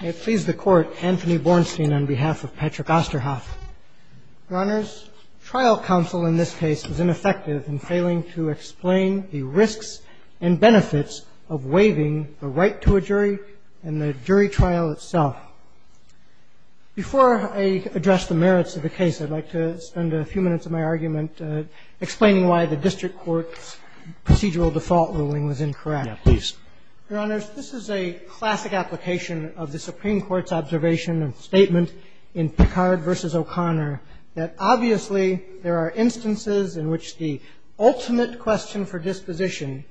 I please the Court, Anthony Bornstein on behalf of Patrick Osterhoff. Your Honors, trial counsel in this case was ineffective in failing to explain the risks and benefits of waiving the right to a jury and the jury trial itself. Before I address the merits of the case, I'd like to spend a few minutes of my argument explaining why the District Court's procedural default ruling was incorrect. Yeah, please. Your Honors, this is a classic application of the Supreme Court's observation and statement in Picard v. O'Connor, that obviously there are instances in which the ultimate question for disposition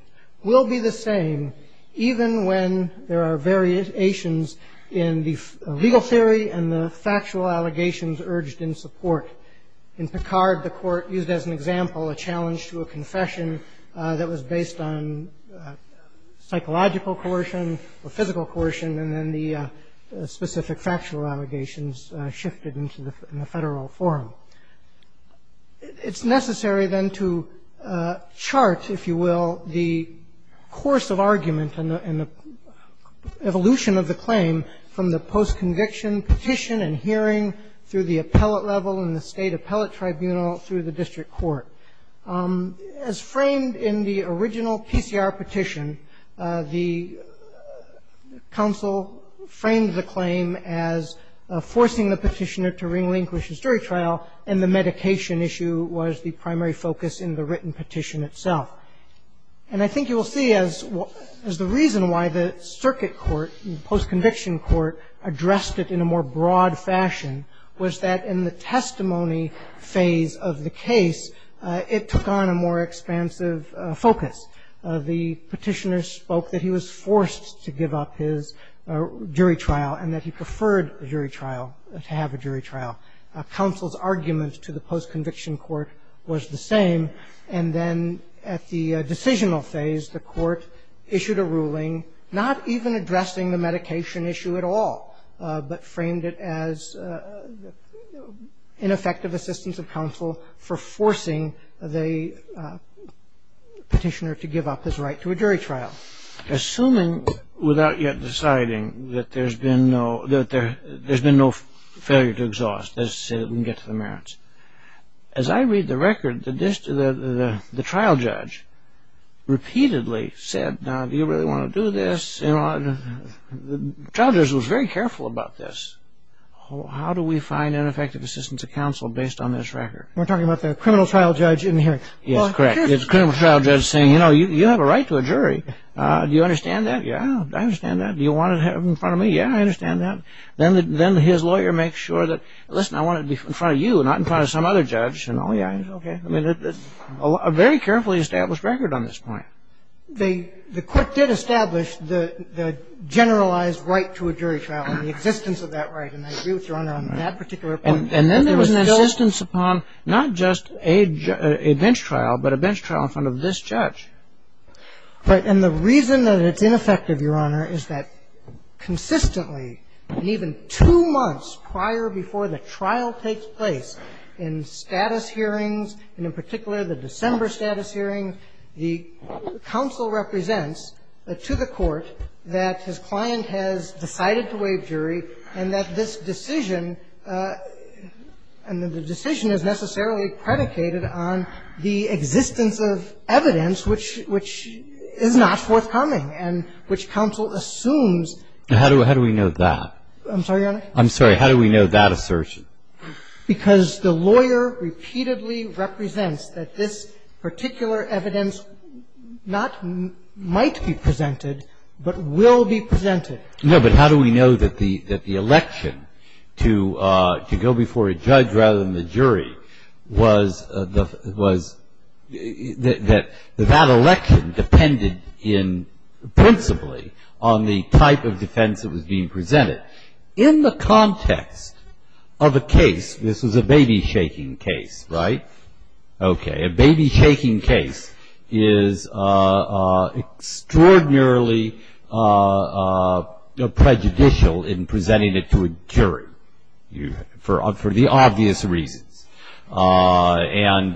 will be the same, even when there are variations in the legal theory and the factual allegations urged in support. In Picard, the Court used as an example a challenge to a confession that was based on psychological coercion or physical coercion, and then the specific factual allegations shifted into the Federal forum. It's necessary, then, to chart, if you will, the course of argument and the evolution of the claim from the post-conviction petition and hearing through the appellate level in the State Appellate Tribunal through the District Court. As framed in the original PCR petition, the counsel framed the claim as forcing the petitioner to relinquish his jury trial, and the medication issue was the primary focus in the written petition itself. And I think you will see as the reason why the circuit court, the post-conviction court, addressed it in a more broad fashion was that in the testimony phase of the case, it took on a more expansive focus. The petitioner spoke that he was forced to give up his jury trial and that he preferred a jury trial, to have a jury trial. Counsel's argument to the post-conviction court was the same, and then at the decisional phase, the Court issued a ruling not even addressing the medication issue at all, but framed it as ineffective assistance of counsel for forcing the petitioner to give up his right to a jury trial. Assuming, without yet deciding, that there's been no failure to exhaust, let's get to the merits. As I read the record, the trial judge repeatedly said, now do you really want to do this? The trial judge was very careful about this. How do we find ineffective assistance of counsel based on this record? We're talking about the criminal trial judge in here. Yes, correct. It's a criminal trial judge saying, you know, you have a right to a jury. Do you understand that? Yeah, I understand that. Do you want it in front of me? Yeah, I understand that. Then his lawyer makes sure that, listen, I want it in front of you, not in front of some other judge. And, oh, yeah, okay. I mean, it's a very carefully established record on this point. The Court did establish the generalized right to a jury trial and the existence of that right, and I agree with your honor on that particular point. And then there was an insistence upon not just a bench trial, but a bench trial in front of this judge. Right. And the reason that it's ineffective, Your Honor, is that consistently, even two months prior before the trial takes place in status hearings, and in particular the December status hearing, the counsel represents to the Court that his client has decided to waive jury and that this decision, and the decision is necessarily predicated on the existence of evidence which is not forthcoming and which counsel assumes. And how do we know that? I'm sorry, Your Honor? I'm sorry. How do we know that assertion? Because the lawyer repeatedly represents that this particular evidence not might be presented, but will be presented. No, but how do we know that the election to go before a judge rather than the jury was that that election depended principally on the type of defense that was being presented? In the context of a case, this was a baby-shaking case, right? Extraordinarily prejudicial in presenting it to a jury for the obvious reasons. And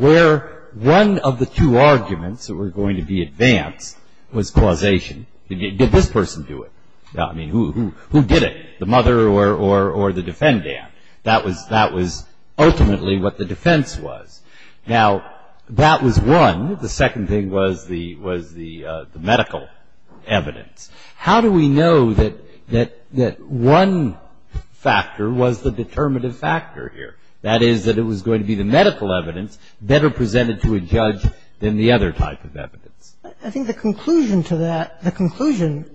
where one of the two arguments that were going to be advanced was causation. Did this person do it? I mean, who did it, the mother or the defendant? That was ultimately what the defense was. Now, that was one. The second thing was the medical evidence. How do we know that one factor was the determinative factor here? That is, that it was going to be the medical evidence better presented to a judge than the other type of evidence? I think the conclusion to that, the conclusion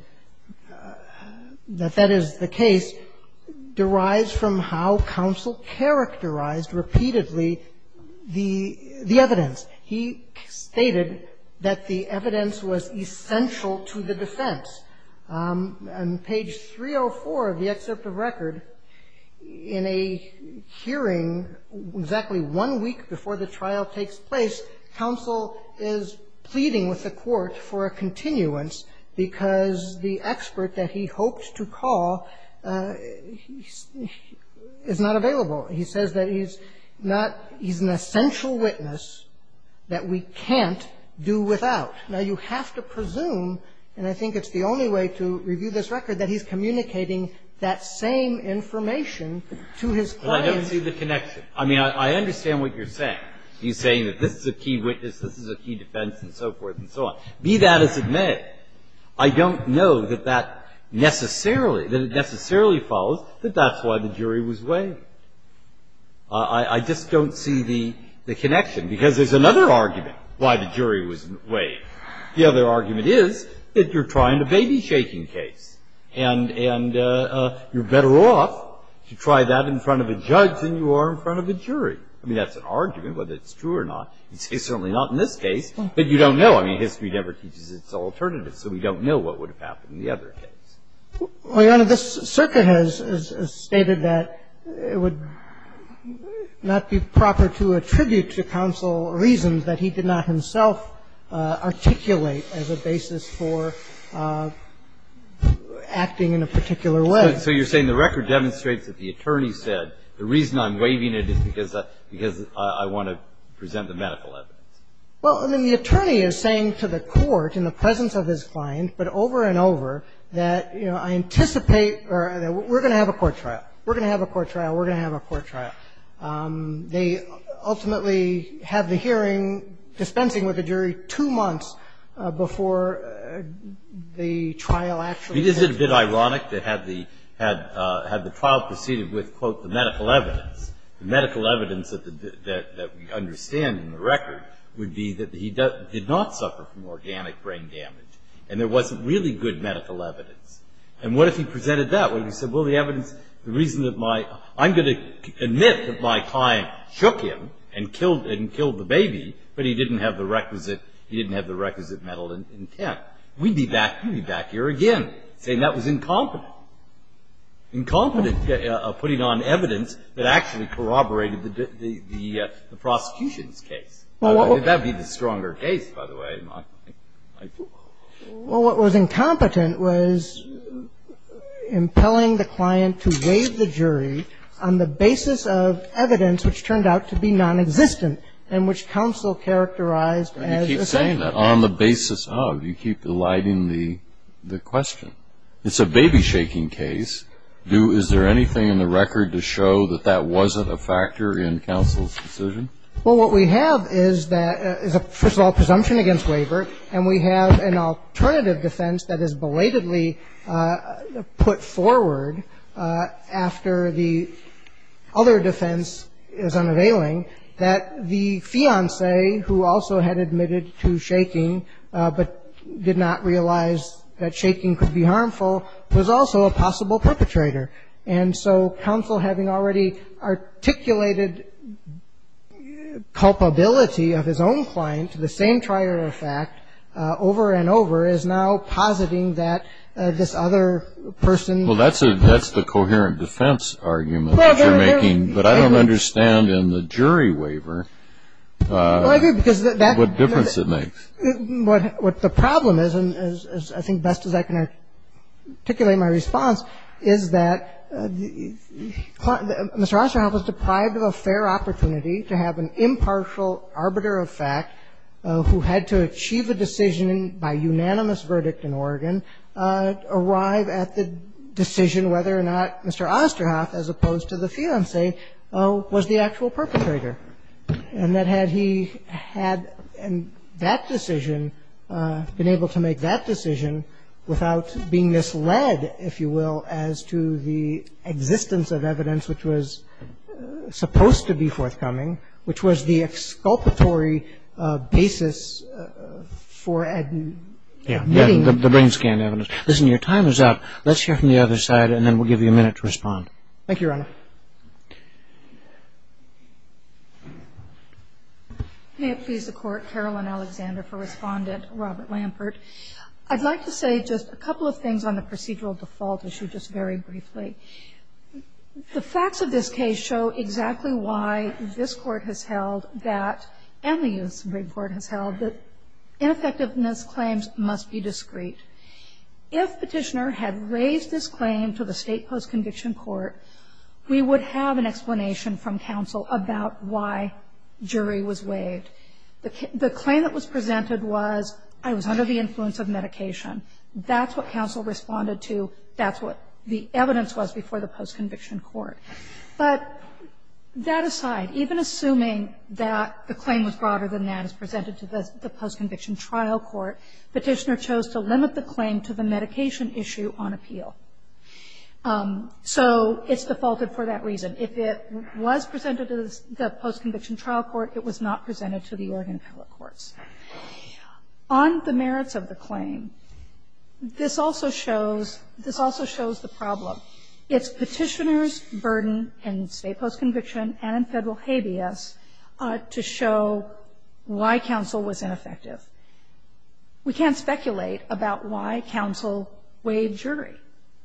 that that is the case, derives from how counsel characterized repeatedly the evidence. He stated that the evidence was essential to the defense. On page 304 of the excerpt of record, in a hearing exactly one week before the trial takes place, counsel is pleading with the court for a continuance because the expert that he hoped to call is not available. He says that he's not, he's an essential witness that we can't do without. Now, you have to presume, and I think it's the only way to review this record, that he's communicating that same information to his client. But I don't see the connection. I mean, I understand what you're saying. You're saying that this is a key witness, this is a key defense, and so forth and so on. Be that as it may, I don't know that that necessarily, that it necessarily follows that that's why the jury was waived. I just don't see the connection because there's another argument why the jury was waived. The other argument is that you're trying a baby-shaking case, and you're better off to try that in front of a judge than you are in front of a jury. I mean, that's an argument, whether it's true or not. It's certainly not in this case, but you don't know. I mean, history never teaches its alternatives, so we don't know what would have happened in the other case. Well, Your Honor, this circuit has stated that it would not be proper to attribute to counsel reasons that he did not himself articulate as a basis for acting in a particular way. So you're saying the record demonstrates that the attorney said the reason I'm waiving it is because I want to present the medical evidence. Well, I mean, the attorney is saying to the court in the presence of his client, but over and over, that, you know, I anticipate or we're going to have a court trial. We're going to have a court trial. We're going to have a court trial. They ultimately have the hearing dispensing with the jury two months before the trial actually takes place. Isn't it a bit ironic that had the trial proceeded with, quote, the medical evidence, the medical evidence that we understand in the record would be that he did not suffer from organic brain damage, and there wasn't really good medical evidence. And what if he presented that? What if he said, well, the evidence, the reason that my, I'm going to admit that my client shook him and killed the baby, but he didn't have the requisite mental intent. We'd be back here again saying that was incompetent, incompetent putting on evidence that actually corroborated the prosecution's case. That would be the stronger case, by the way. Well, what was incompetent was impelling the client to waive the jury on the basis of evidence which turned out to be nonexistent and which counsel characterized as a statement. You keep saying that, on the basis of. You keep eliding the question. It's a baby-shaking case. Is there anything in the record to show that that wasn't a factor in counsel's decision? Well, what we have is a, first of all, presumption against waiver, and we have an alternative defense that is belatedly put forward after the other defense is unavailing, that the fiancé, who also had admitted to shaking but did not realize that shaking could be harmful, was also a possible perpetrator. And so counsel, having already articulated culpability of his own client to the same trier of fact over and over, is now positing that this other person. Well, that's the coherent defense argument that you're making, but I don't understand in the jury waiver what difference it makes. What the problem is, and I think best as I can articulate my response, is that Mr. Osterhoff was deprived of a fair opportunity to have an impartial arbiter of fact who had to achieve a decision by unanimous verdict in Oregon, arrive at the decision whether or not Mr. Osterhoff, as opposed to the fiancé, was the actual perpetrator. And that had he had that decision, been able to make that decision without being misled, if you will, as to the existence of evidence which was supposed to be forthcoming, which was the exculpatory basis for admitting. Yes, the brain scan evidence. Listen, your time is up. Let's hear from the other side and then we'll give you a minute to respond. Thank you, Your Honor. May it please the Court, Carolyn Alexander for Respondent, Robert Lampert. I'd like to say just a couple of things on the procedural default issue just very briefly. The facts of this case show exactly why this Court has held that, and the U.S. Supreme Court has held, that ineffectiveness claims must be discreet. If Petitioner had raised this claim to the State Post-Conviction Court, we would have an explanation from counsel about why jury was waived. The claim that was presented was, I was under the influence of medication. That's what counsel responded to. That's what the evidence was before the Post-Conviction Court. But that aside, even assuming that the claim was broader than that, as presented to the Post-Conviction Trial Court, Petitioner chose to limit the claim to the medication issue on appeal. So it's defaulted for that reason. If it was presented to the Post-Conviction Trial Court, it was not presented to the Oregon appellate courts. On the merits of the claim, this also shows, this also shows the problem. It's Petitioner's burden in State Post-Conviction and in Federal habeas to show why counsel was ineffective. We can't speculate about why counsel waived jury.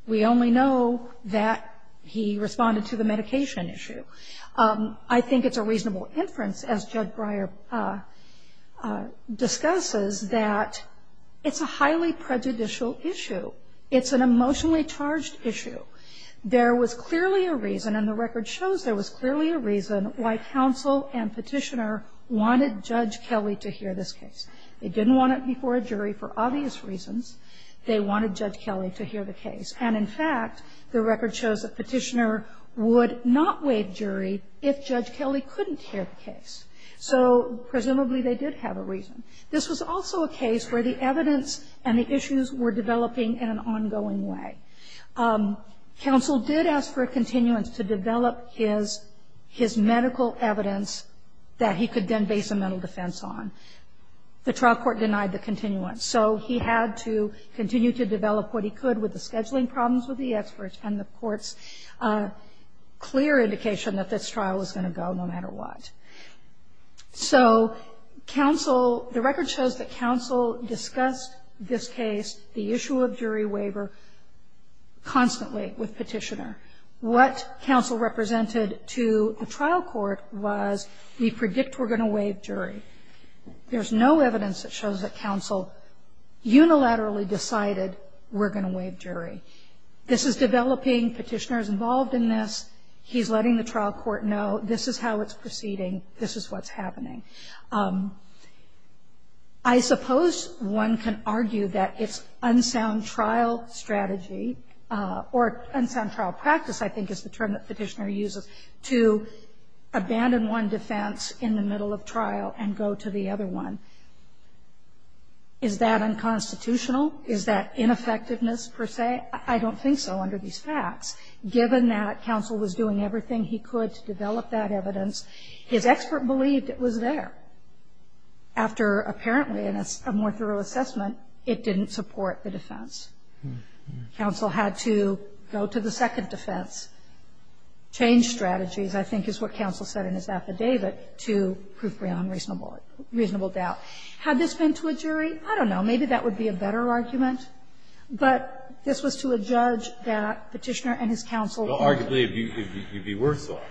We only know that he responded to the medication issue. I think it's a reasonable inference, as Judge Breyer discusses, that it's a highly prejudicial issue. It's an emotionally charged issue. There was clearly a reason, and the record shows there was clearly a reason, why counsel and Petitioner wanted Judge Kelly to hear this case. They didn't want it before a jury for obvious reasons. They wanted Judge Kelly to hear the case. And, in fact, the record shows that Petitioner would not waive jury if Judge Kelly couldn't hear the case. So presumably they did have a reason. This was also a case where the evidence and the issues were developing in an ongoing way. Counsel did ask for a continuance to develop his medical evidence that he could then base a mental defense on. The trial court denied the continuance. So he had to continue to develop what he could with the scheduling problems with the experts and the court's clear indication that this trial was going to go no matter what. So counsel, the record shows that counsel discussed this case, the issue of jury waiver, constantly with Petitioner. What counsel represented to the trial court was we predict we're going to waive jury. There's no evidence that shows that counsel unilaterally decided we're going to waive jury. This is developing. Petitioner is involved in this. He's letting the trial court know this is how it's proceeding. This is what's happening. I suppose one can argue that it's unsound trial strategy or unsound trial practice, I think, is the term that Petitioner uses, to abandon one defense in the middle of the trial and go to the other one. Is that unconstitutional? Is that ineffectiveness per se? I don't think so under these facts. Given that counsel was doing everything he could to develop that evidence, his expert believed it was there. After apparently a more thorough assessment, it didn't support the defense. Counsel had to go to the second defense, change strategies, I think is what counsel said in his affidavit, to prove beyond reasonable doubt. Had this been to a jury? I don't know. Maybe that would be a better argument. But this was to a judge that Petitioner and his counsel argued. Well, arguably, it would be worse off.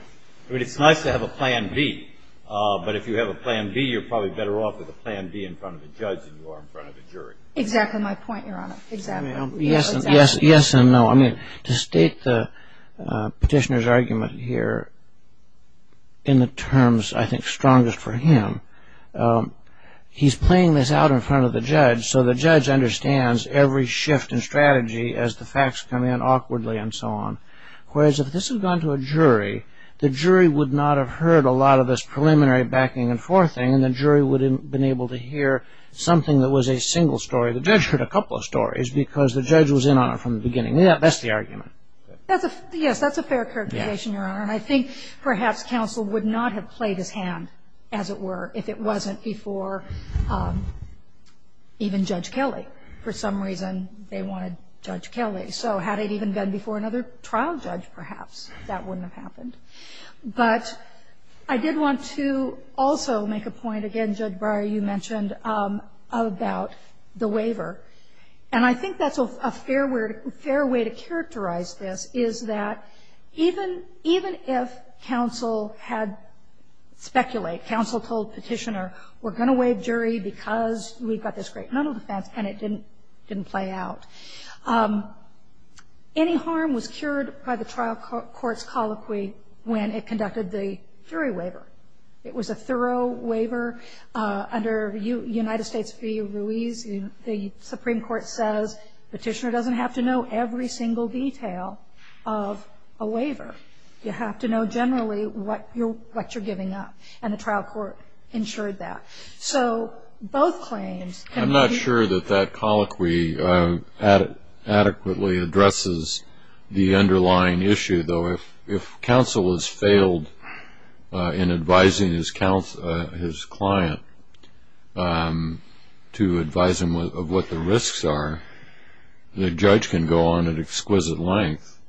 I mean, it's nice to have a plan B, but if you have a plan B, you're probably better off with a plan B in front of a judge than you are in front of a jury. Exactly my point, Your Honor. Exactly. Yes and no. I mean, to state the Petitioner's argument here in the terms, I think, strongest for him, he's playing this out in front of the judge so the judge understands every shift in strategy as the facts come in awkwardly and so on. Whereas if this had gone to a jury, the jury would not have heard a lot of this preliminary backing and forthing, and the jury would have been able to hear something that was a single story. The judge heard a couple of stories because the judge was in on it from the beginning. That's the argument. Yes, that's a fair characterization, Your Honor. And I think perhaps counsel would not have played his hand, as it were, if it wasn't before even Judge Kelly. For some reason, they wanted Judge Kelly. So had it even been before another trial judge, perhaps, that wouldn't have happened. But I did want to also make a point, again, Judge Breyer, you mentioned about the waiver, and I think that's a fair way to characterize this is that even if counsel had speculated, counsel told Petitioner, we're going to waive jury because we've got this great mental defense, and it didn't play out. Any harm was cured by the trial court's colloquy when it conducted the jury waiver. It was a thorough waiver under United States v. Ruiz. The Supreme Court says Petitioner doesn't have to know every single detail of a waiver. You have to know generally what you're giving up, and the trial court ensured that. So both claims can be used. I'm not sure that that colloquy adequately addresses the underlying issue, though if counsel has failed in advising his client to advise him of what the risks are, the judge can go on at exquisite length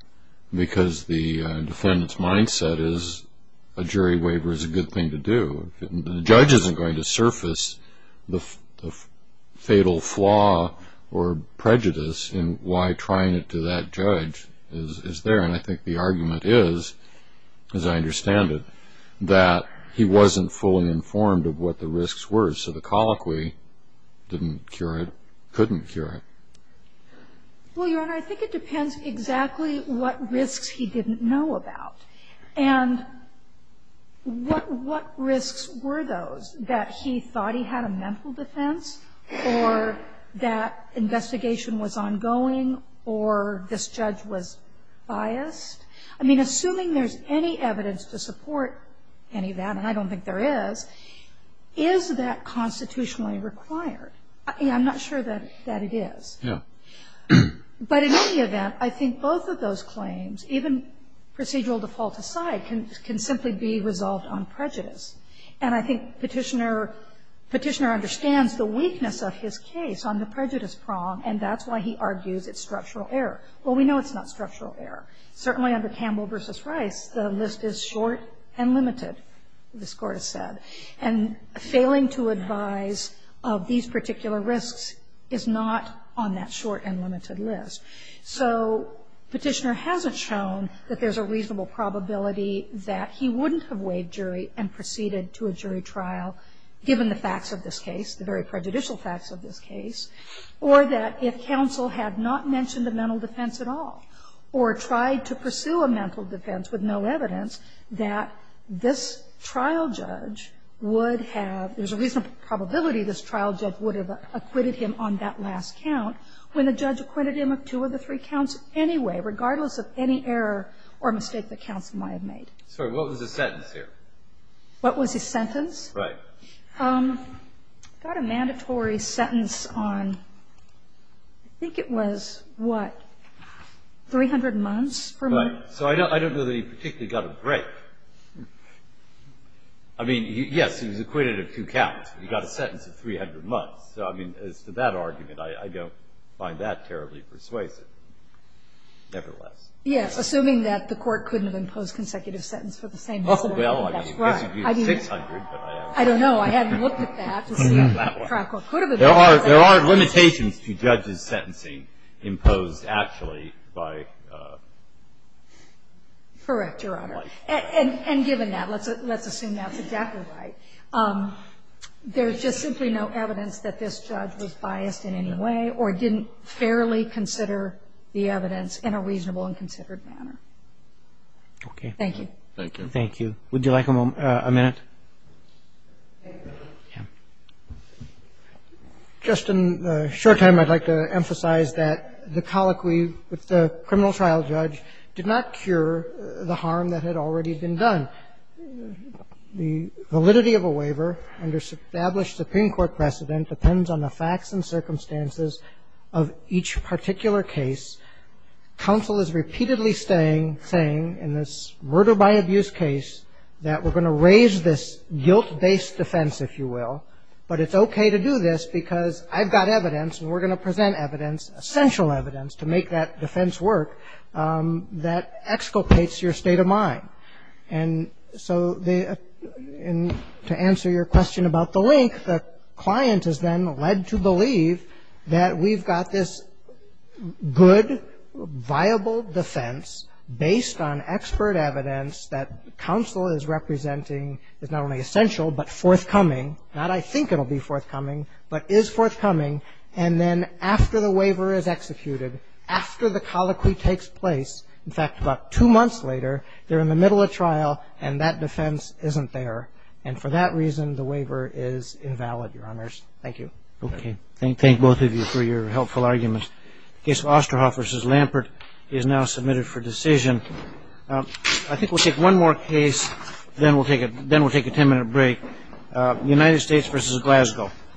because the defendant's mindset is a jury waiver is a good thing to do. The judge isn't going to surface the fatal flaw or prejudice in why trying it to that judge is there. And I think the argument is, as I understand it, that he wasn't fully informed of what the risks were. So the colloquy didn't cure it, couldn't cure it. Well, Your Honor, I think it depends exactly what risks he didn't know about. And what risks were those, that he thought he had a mental defense or that assuming there's any evidence to support any of that, and I don't think there is, is that constitutionally required? I'm not sure that it is. But in any event, I think both of those claims, even procedural default aside, can simply be resolved on prejudice. And I think Petitioner understands the weakness of his case on the prejudice prong, and that's why he argues it's structural error. Well, we know it's not structural error. Certainly under Campbell v. Rice, the list is short and limited, this Court has said. And failing to advise of these particular risks is not on that short and limited list. So Petitioner hasn't shown that there's a reasonable probability that he wouldn't have waived jury and proceeded to a jury trial, given the facts of this case, the very prejudicial facts of this case, or that if counsel had not mentioned a mental defense at all, or tried to pursue a mental defense with no evidence, that this trial judge would have, there's a reasonable probability this trial judge would have acquitted him on that last count, when the judge acquitted him of two of the three counts anyway, regardless of any error or mistake that counsel might have made. Sorry, what was the sentence here? What was his sentence? Right. He got a mandatory sentence on, I think it was, what, 300 months? Right. So I don't know that he particularly got a break. I mean, yes, he was acquitted of two counts. He got a sentence of 300 months. So, I mean, as to that argument, I don't find that terribly persuasive. Nevertheless. Yes, assuming that the Court couldn't have imposed consecutive sentence for the same incident. Oh, well, I guess you could have 600, but I don't know. I hadn't looked at that. There are limitations to judges' sentencing imposed actually by. Correct, Your Honor. And given that, let's assume that's exactly right. There's just simply no evidence that this judge was biased in any way, or didn't fairly consider the evidence in a reasonable and considered manner. Okay. Thank you. Thank you. Thank you. Would you like a moment? A minute? Thank you. Yeah. Just in the short time, I'd like to emphasize that the colloquy with the criminal trial judge did not cure the harm that had already been done. The validity of a waiver under established Supreme Court precedent depends on the facts and circumstances of each particular case. Counsel is repeatedly saying in this murder-by-abuse case that we're going to raise this guilt-based defense, if you will, but it's okay to do this because I've got evidence and we're going to present evidence, essential evidence, to make that defense work that exculpates your state of mind. And so to answer your question about the link, the client is then led to believe that we've got this good, viable defense based on expert evidence that counsel is representing is not only essential but forthcoming. Not I think it will be forthcoming, but is forthcoming. And then after the waiver is executed, after the colloquy takes place, in fact, about two months later, they're in the middle of trial and that defense isn't there. And for that reason, the waiver is invalid, Your Honors. Thank you. Okay. Thank both of you for your helpful arguments. The case of Osterhoff v. Lampert is now submitted for decision. I think we'll take one more case, then we'll take a ten-minute break. United States v. Glasgow.